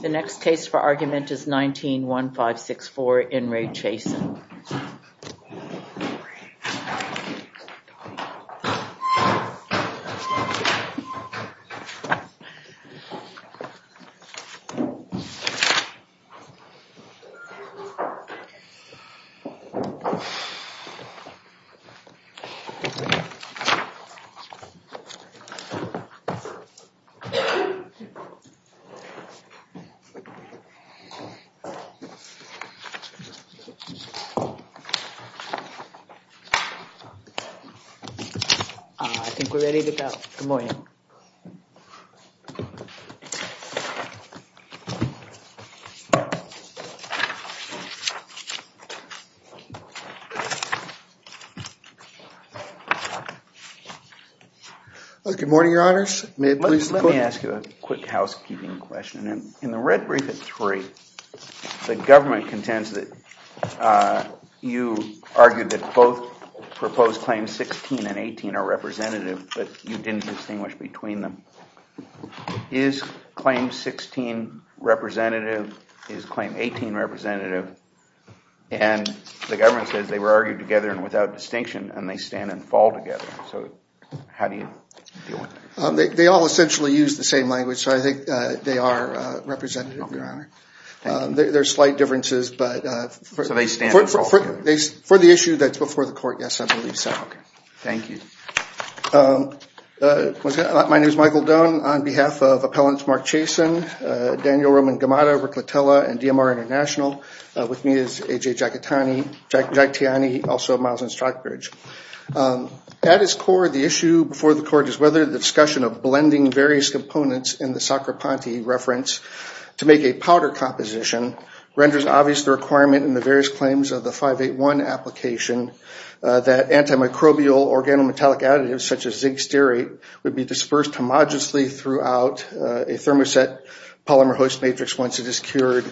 The next case for argument is 19-1564 In Re Chason. I think we're ready to go. Good morning. Good morning, your honors. Let me ask you a quick housekeeping question. In the red brief at three, the government contends that you argued that both proposed claims 16 and 18 are representative, but you didn't distinguish between them. Is claim 16 representative? Is claim 18 representative? And the government says they were argued together and without distinction, and they stand and fall together. So how do you deal with that? They all essentially use the same language, so I think they are representative, your honor. There's slight differences, but for the issue that's before the court, yes, I believe so. Okay. Thank you. My name is Michael Doan. On behalf of Appellants Mark Chason, Daniel Roman Gamata, Rick Letella, and DMR International, with me is A.J. At its core, the issue before the court is whether the discussion of blending various components in the Sacrapanti reference to make a powder composition renders obvious the requirement in the various claims of the 581 application that antimicrobial organometallic additives such as zinc stearate would be dispersed homogeneously throughout a thermoset polymer host matrix once it is cured,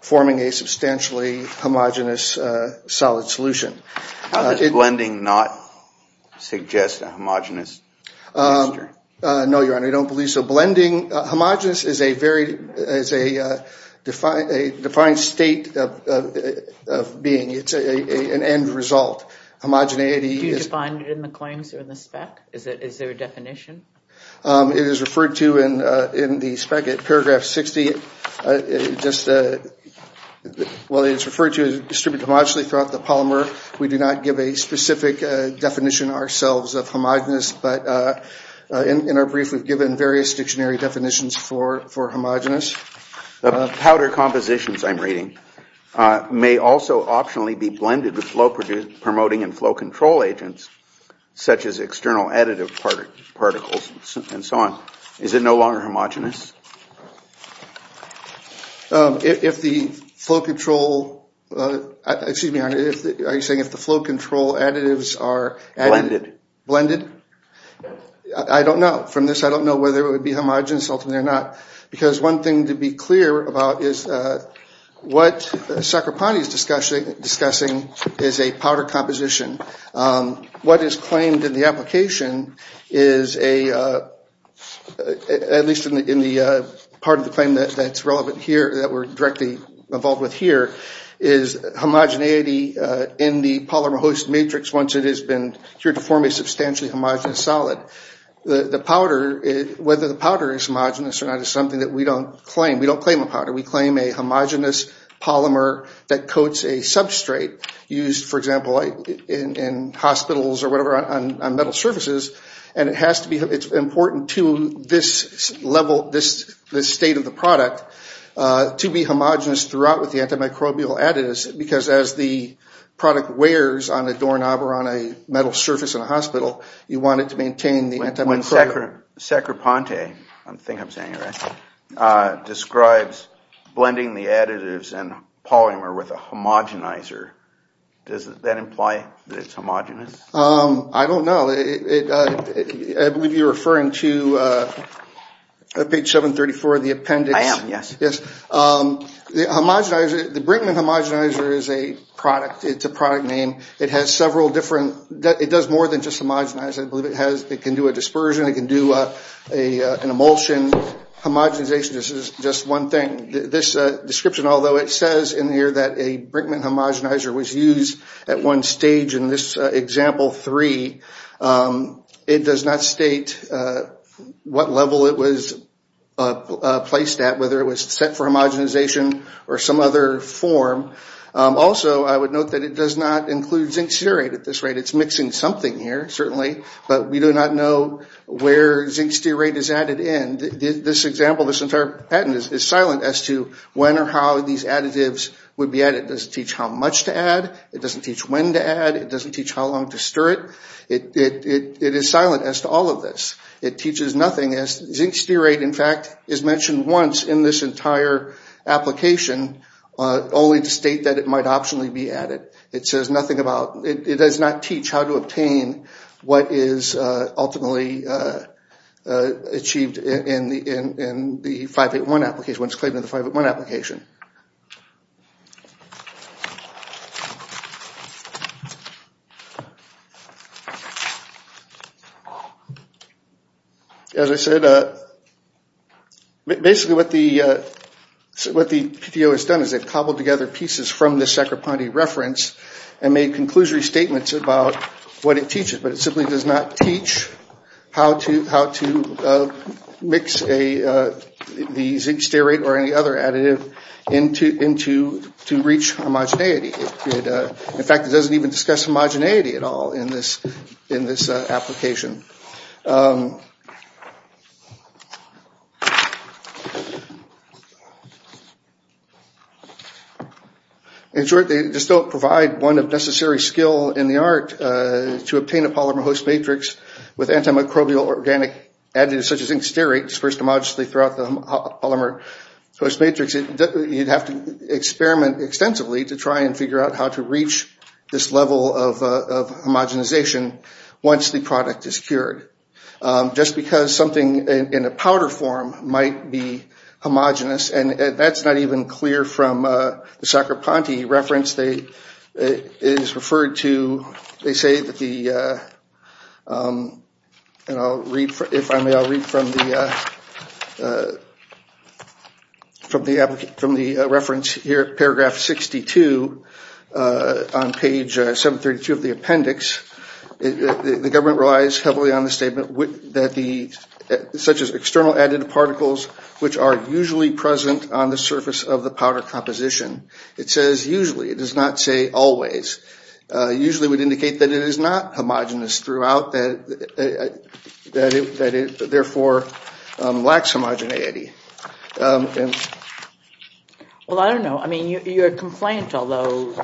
forming a substantially homogenous solid solution. How does blending not suggest a homogenous mixture? No, your honor, I don't believe so. Blending, homogenous is a defined state of being. It's an end result. Homogeneity is Do you define it in the claims or in the spec? Is there a definition? It is referred to in the spec at paragraph 60. Well, it's referred to as distributed homogeneously throughout the polymer. We do not give a specific definition ourselves of homogenous, but in our brief, we've given various dictionary definitions for homogenous. Powder compositions, I'm reading, may also optionally be blended with flow-promoting and flow-control agents, such as external additive particles and so on. Is it no longer homogenous? If the flow-control, excuse me, are you saying if the flow-control additives are Blended. Blended. I don't know. From this, I don't know whether it would be homogenous ultimately or not, because one thing to be clear about is What Sacropani is discussing is a powder composition. What is claimed in the application is a, at least in the part of the claim that's relevant here that we're directly involved with here, is homogeneity in the polymer host matrix once it has been cured to form a substantially homogenous solid. The powder, whether the powder is homogenous or not is something that we don't claim. We don't claim a powder. We claim a homogenous polymer that coats a substrate used, for example, in hospitals or whatever on metal surfaces, and it has to be, it's important to this level, this state of the product to be homogenous throughout with the antimicrobial additives, because as the product wears on a doorknob or on a metal surface in a hospital, you want it to maintain the antimicrobial. Sacropante, I think I'm saying it right, describes blending the additives and polymer with a homogenizer. Does that imply that it's homogenous? I don't know. I believe you're referring to page 734 of the appendix. I am, yes. Yes. The homogenizer, the Brinkman homogenizer is a product. It's a product name. It has several different, it does more than just homogenize. I believe it has, it can do a dispersion, it can do an emulsion. Homogenization is just one thing. This description, although it says in here that a Brinkman homogenizer was used at one stage in this example 3, it does not state what level it was placed at, whether it was set for homogenization or some other form. Also, I would note that it does not include zinc serate at this rate. It's mixing something here, certainly, but we do not know where zinc serate is added in. This example, this entire patent is silent as to when or how these additives would be added. It doesn't teach how much to add. It doesn't teach when to add. It doesn't teach how long to stir it. It is silent as to all of this. It teaches nothing. Zinc serate, in fact, is mentioned once in this entire application, only to state that it might optionally be added. It says nothing about, it does not teach how to obtain what is ultimately achieved in the 581 application, when it's claimed in the 581 application. As I said, basically what the PTO has done is they've cobbled together pieces from the Sacropanti reference and made conclusory statements about what it teaches, but it simply does not teach how to mix the zinc serate or any other additive to reach homogeneity. In fact, it doesn't even discuss homogeneity at all in this application. In short, they just don't provide one of necessary skill in the art to obtain a polymer host matrix with antimicrobial or organic additives such as zinc serate dispersed homogeneously throughout the polymer host matrix. You'd have to experiment extensively to try and figure out how to reach this level of homogenization once the product is cured. Just because something in a powder form might be homogenous, and that's not even clear from the Sacropanti reference. They say, if I may, I'll read from the reference here, paragraph 62, on page 732 of the appendix. The government relies heavily on the statement such as external additive particles which are usually present on the surface of the powder composition. It says usually, it does not say always. Usually would indicate that it is not homogenous throughout, that it therefore lacks homogeneity. Well, I don't know. I mean, your complaint, although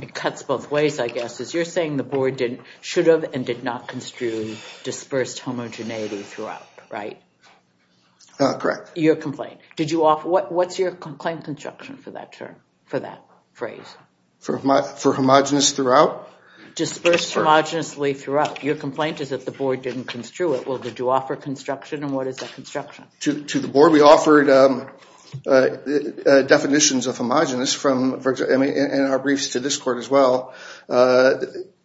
it cuts both ways, I guess, is you're saying the board should have and did not construe dispersed homogeneity throughout, right? Correct. Your complaint. What's your complaint construction for that term, for that phrase? For homogenous throughout? Dispersed homogeneously throughout. Your complaint is that the board didn't construe it. Well, did you offer construction, and what is that construction? To the board, we offered definitions of homogenous, and our briefs to this court as well,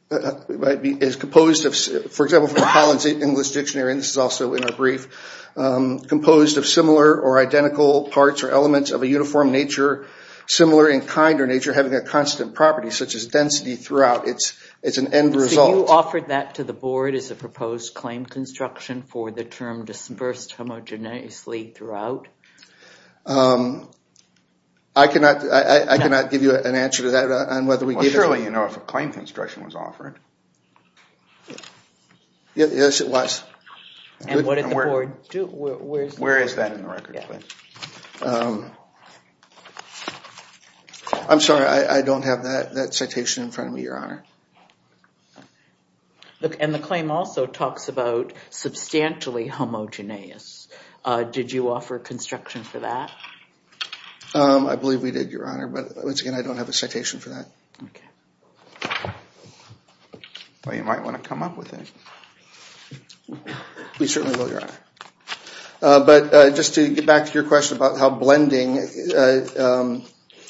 is composed of, for example, from Collins English Dictionary, and this is also in our brief, composed of similar or identical parts or elements of a uniform nature, similar in kind or nature, having a constant property such as density throughout. It's an end result. Have you offered that to the board as a proposed claim construction for the term dispersed homogeneously throughout? I cannot give you an answer to that on whether we gave it. Well, surely you know if a claim construction was offered. Yes, it was. And what did the board do? Where is that in the record? I'm sorry. I don't have that citation in front of me, Your Honor. And the claim also talks about substantially homogenous. Did you offer construction for that? I believe we did, Your Honor, but once again, I don't have a citation for that. Okay. Well, you might want to come up with it. We certainly will, Your Honor. But just to get back to your question about how blending,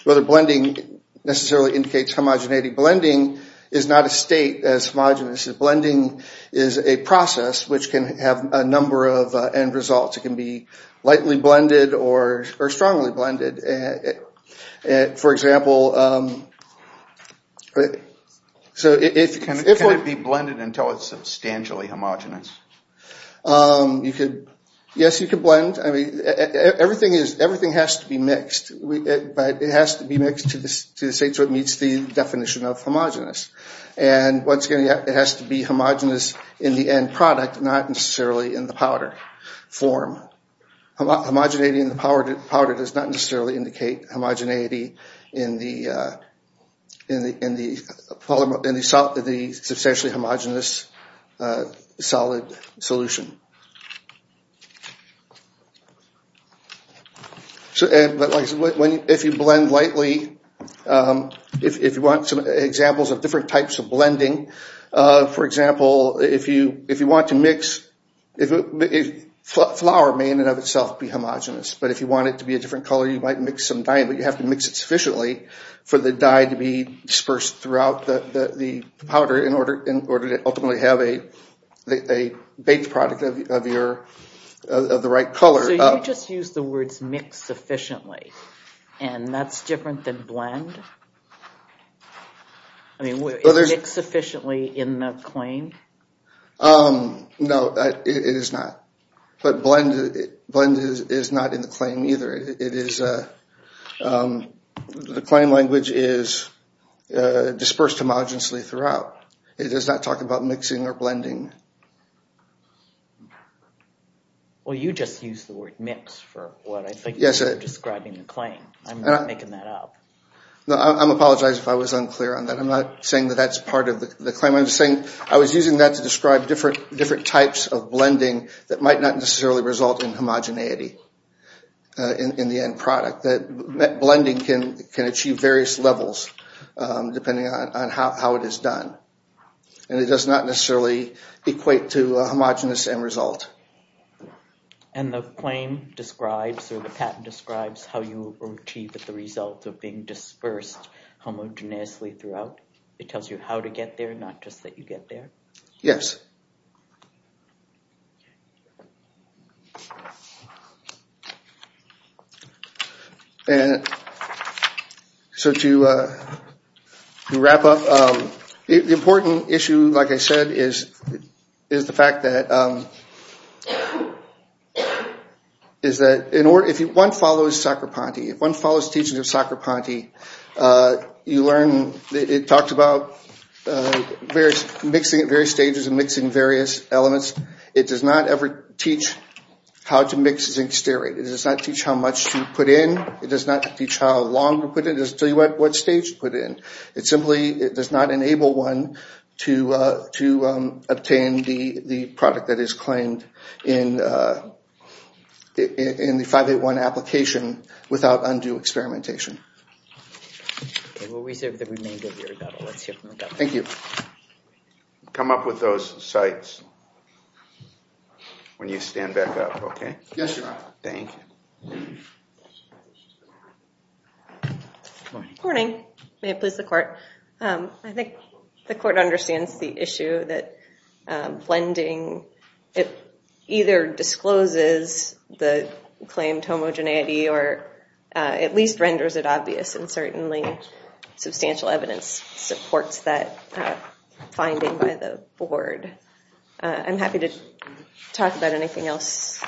whether blending necessarily indicates homogeneity, blending is not a state as homogenous. Blending is a process which can have a number of end results. It can be lightly blended or strongly blended. For example, so if we're going to be blended until it's substantially homogenous, yes, you could blend. I mean, everything has to be mixed, but it has to be mixed to the state so it meets the definition of homogenous. And once again, it has to be homogenous in the end product, not necessarily in the powder form. Homogeneity in the powder does not necessarily indicate homogeneity in the substantially homogenous solid solution. But like I said, if you blend lightly, if you want some examples of different types of blending, for example, if you want to mix, flour may in and of itself be homogenous, but if you want it to be a different color, you might mix some dye, but you have to mix it sufficiently for the dye to be dispersed throughout the powder in order to ultimately have a baked product of the right color. So you just used the words mix sufficiently, and that's different than blend? I mean, is mix sufficiently in the claim? No, it is not. But blend is not in the claim either. The claim language is dispersed homogenously throughout. It does not talk about mixing or blending. Well, you just used the word mix for what I think you were describing in the claim. I'm not making that up. I apologize if I was unclear on that. I'm not saying that that's part of the claim. I was using that to describe different types of blending that might not necessarily result in homogeneity. In the end product, that blending can achieve various levels depending on how it is done. And it does not necessarily equate to a homogenous end result. And the claim describes or the patent describes how you achieve the result of being dispersed homogeneously throughout? It tells you how to get there, not just that you get there? Yes. So to wrap up, the important issue, like I said, is the fact that if one follows Sacrapanti, if one follows teachings of Sacrapanti, you learn it talks about mixing at various stages and mixing various elements. It does not ever teach how to mix zinc stearate. It does not teach how much to put in. It does not teach how long to put it in. It doesn't tell you at what stage to put it in. It simply does not enable one to obtain the product that is claimed in the 581 application without undue experimentation. Okay, we'll reserve the remainder of your time. Thank you. Come up with those sites when you stand back up, okay? Yes, Your Honor. Good morning. May it please the Court. I think the Court understands the issue that blending, it either discloses the claimed homogeneity or at least renders it obvious, and certainly substantial evidence supports that finding by the Board. I'm happy to talk about anything else.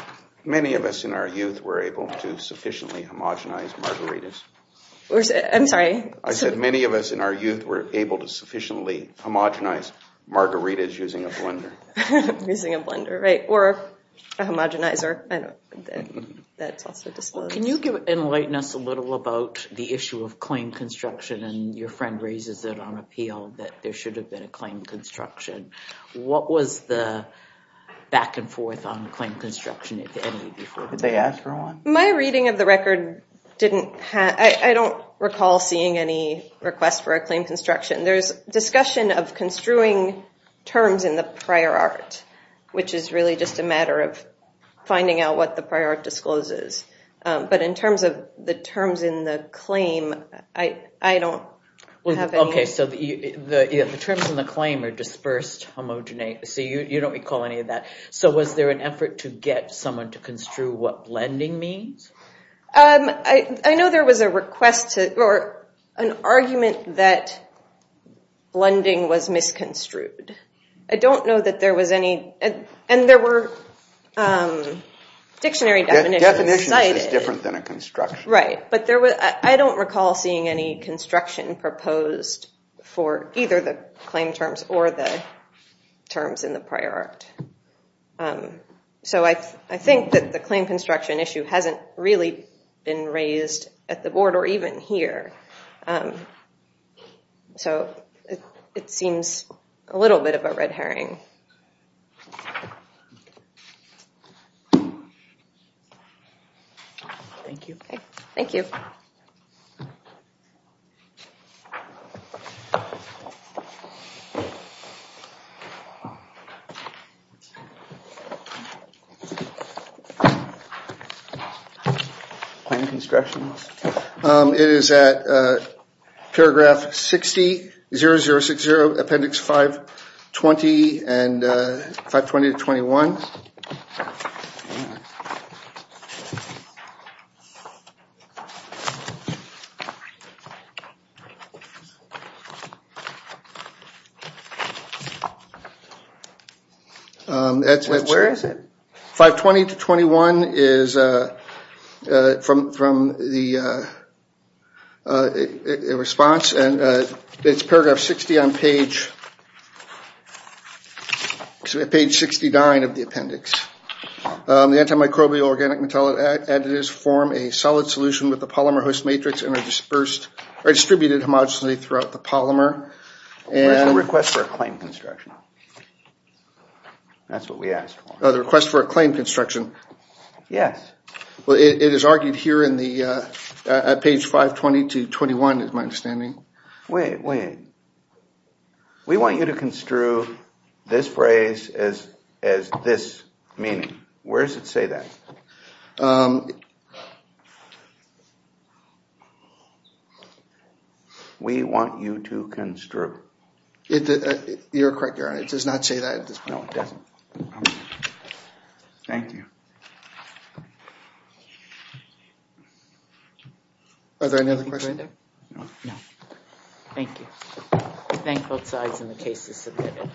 Many of us in our youth were able to sufficiently homogenize margaritas. I'm sorry? I said many of us in our youth were able to sufficiently homogenize margaritas using a blender. Using a blender, right, or a homogenizer. I don't think that's also disclosed. Can you enlighten us a little about the issue of claim construction? And your friend raises it on appeal that there should have been a claim construction. What was the back and forth on claim construction, if any, before? Did they ask for one? My reading of the record didn't have, I don't recall seeing any request for a claim construction. There's discussion of construing terms in the prior art, which is really just a matter of finding out what the prior art discloses. But in terms of the terms in the claim, I don't have any. Okay, so the terms in the claim are dispersed homogeneity. You don't recall any of that. So was there an effort to get someone to construe what blending means? I know there was an argument that blending was misconstrued. I don't know that there was any, and there were dictionary definitions. Definitions is different than a construction. Right, but I don't recall seeing any construction proposed for either the terms in the prior art. So I think that the claim construction issue hasn't really been raised at the board or even here. So it seems a little bit of a red herring. Thank you. Claim construction. It is at paragraph 60, 0060, appendix 520 and 520-21. Where is it? 520-21 is from the response, and it's paragraph 60 on page 69 of the appendix. The antimicrobial organic metallic additives form a solid solution with a polymer host matrix and are distributed homogeneously throughout the polymer. Where's the request for a claim construction? That's what we asked for. The request for a claim construction. Yes. Well, it is argued here at page 520-21 is my understanding. Wait, wait. We want you to construe this phrase as this meaning. Where does it say that? We want you to construe. You're correct, Your Honor. It does not say that at this point. No, it doesn't. Thank you. Are there any other questions? No. Thank you. I thank both sides, and the case is submitted.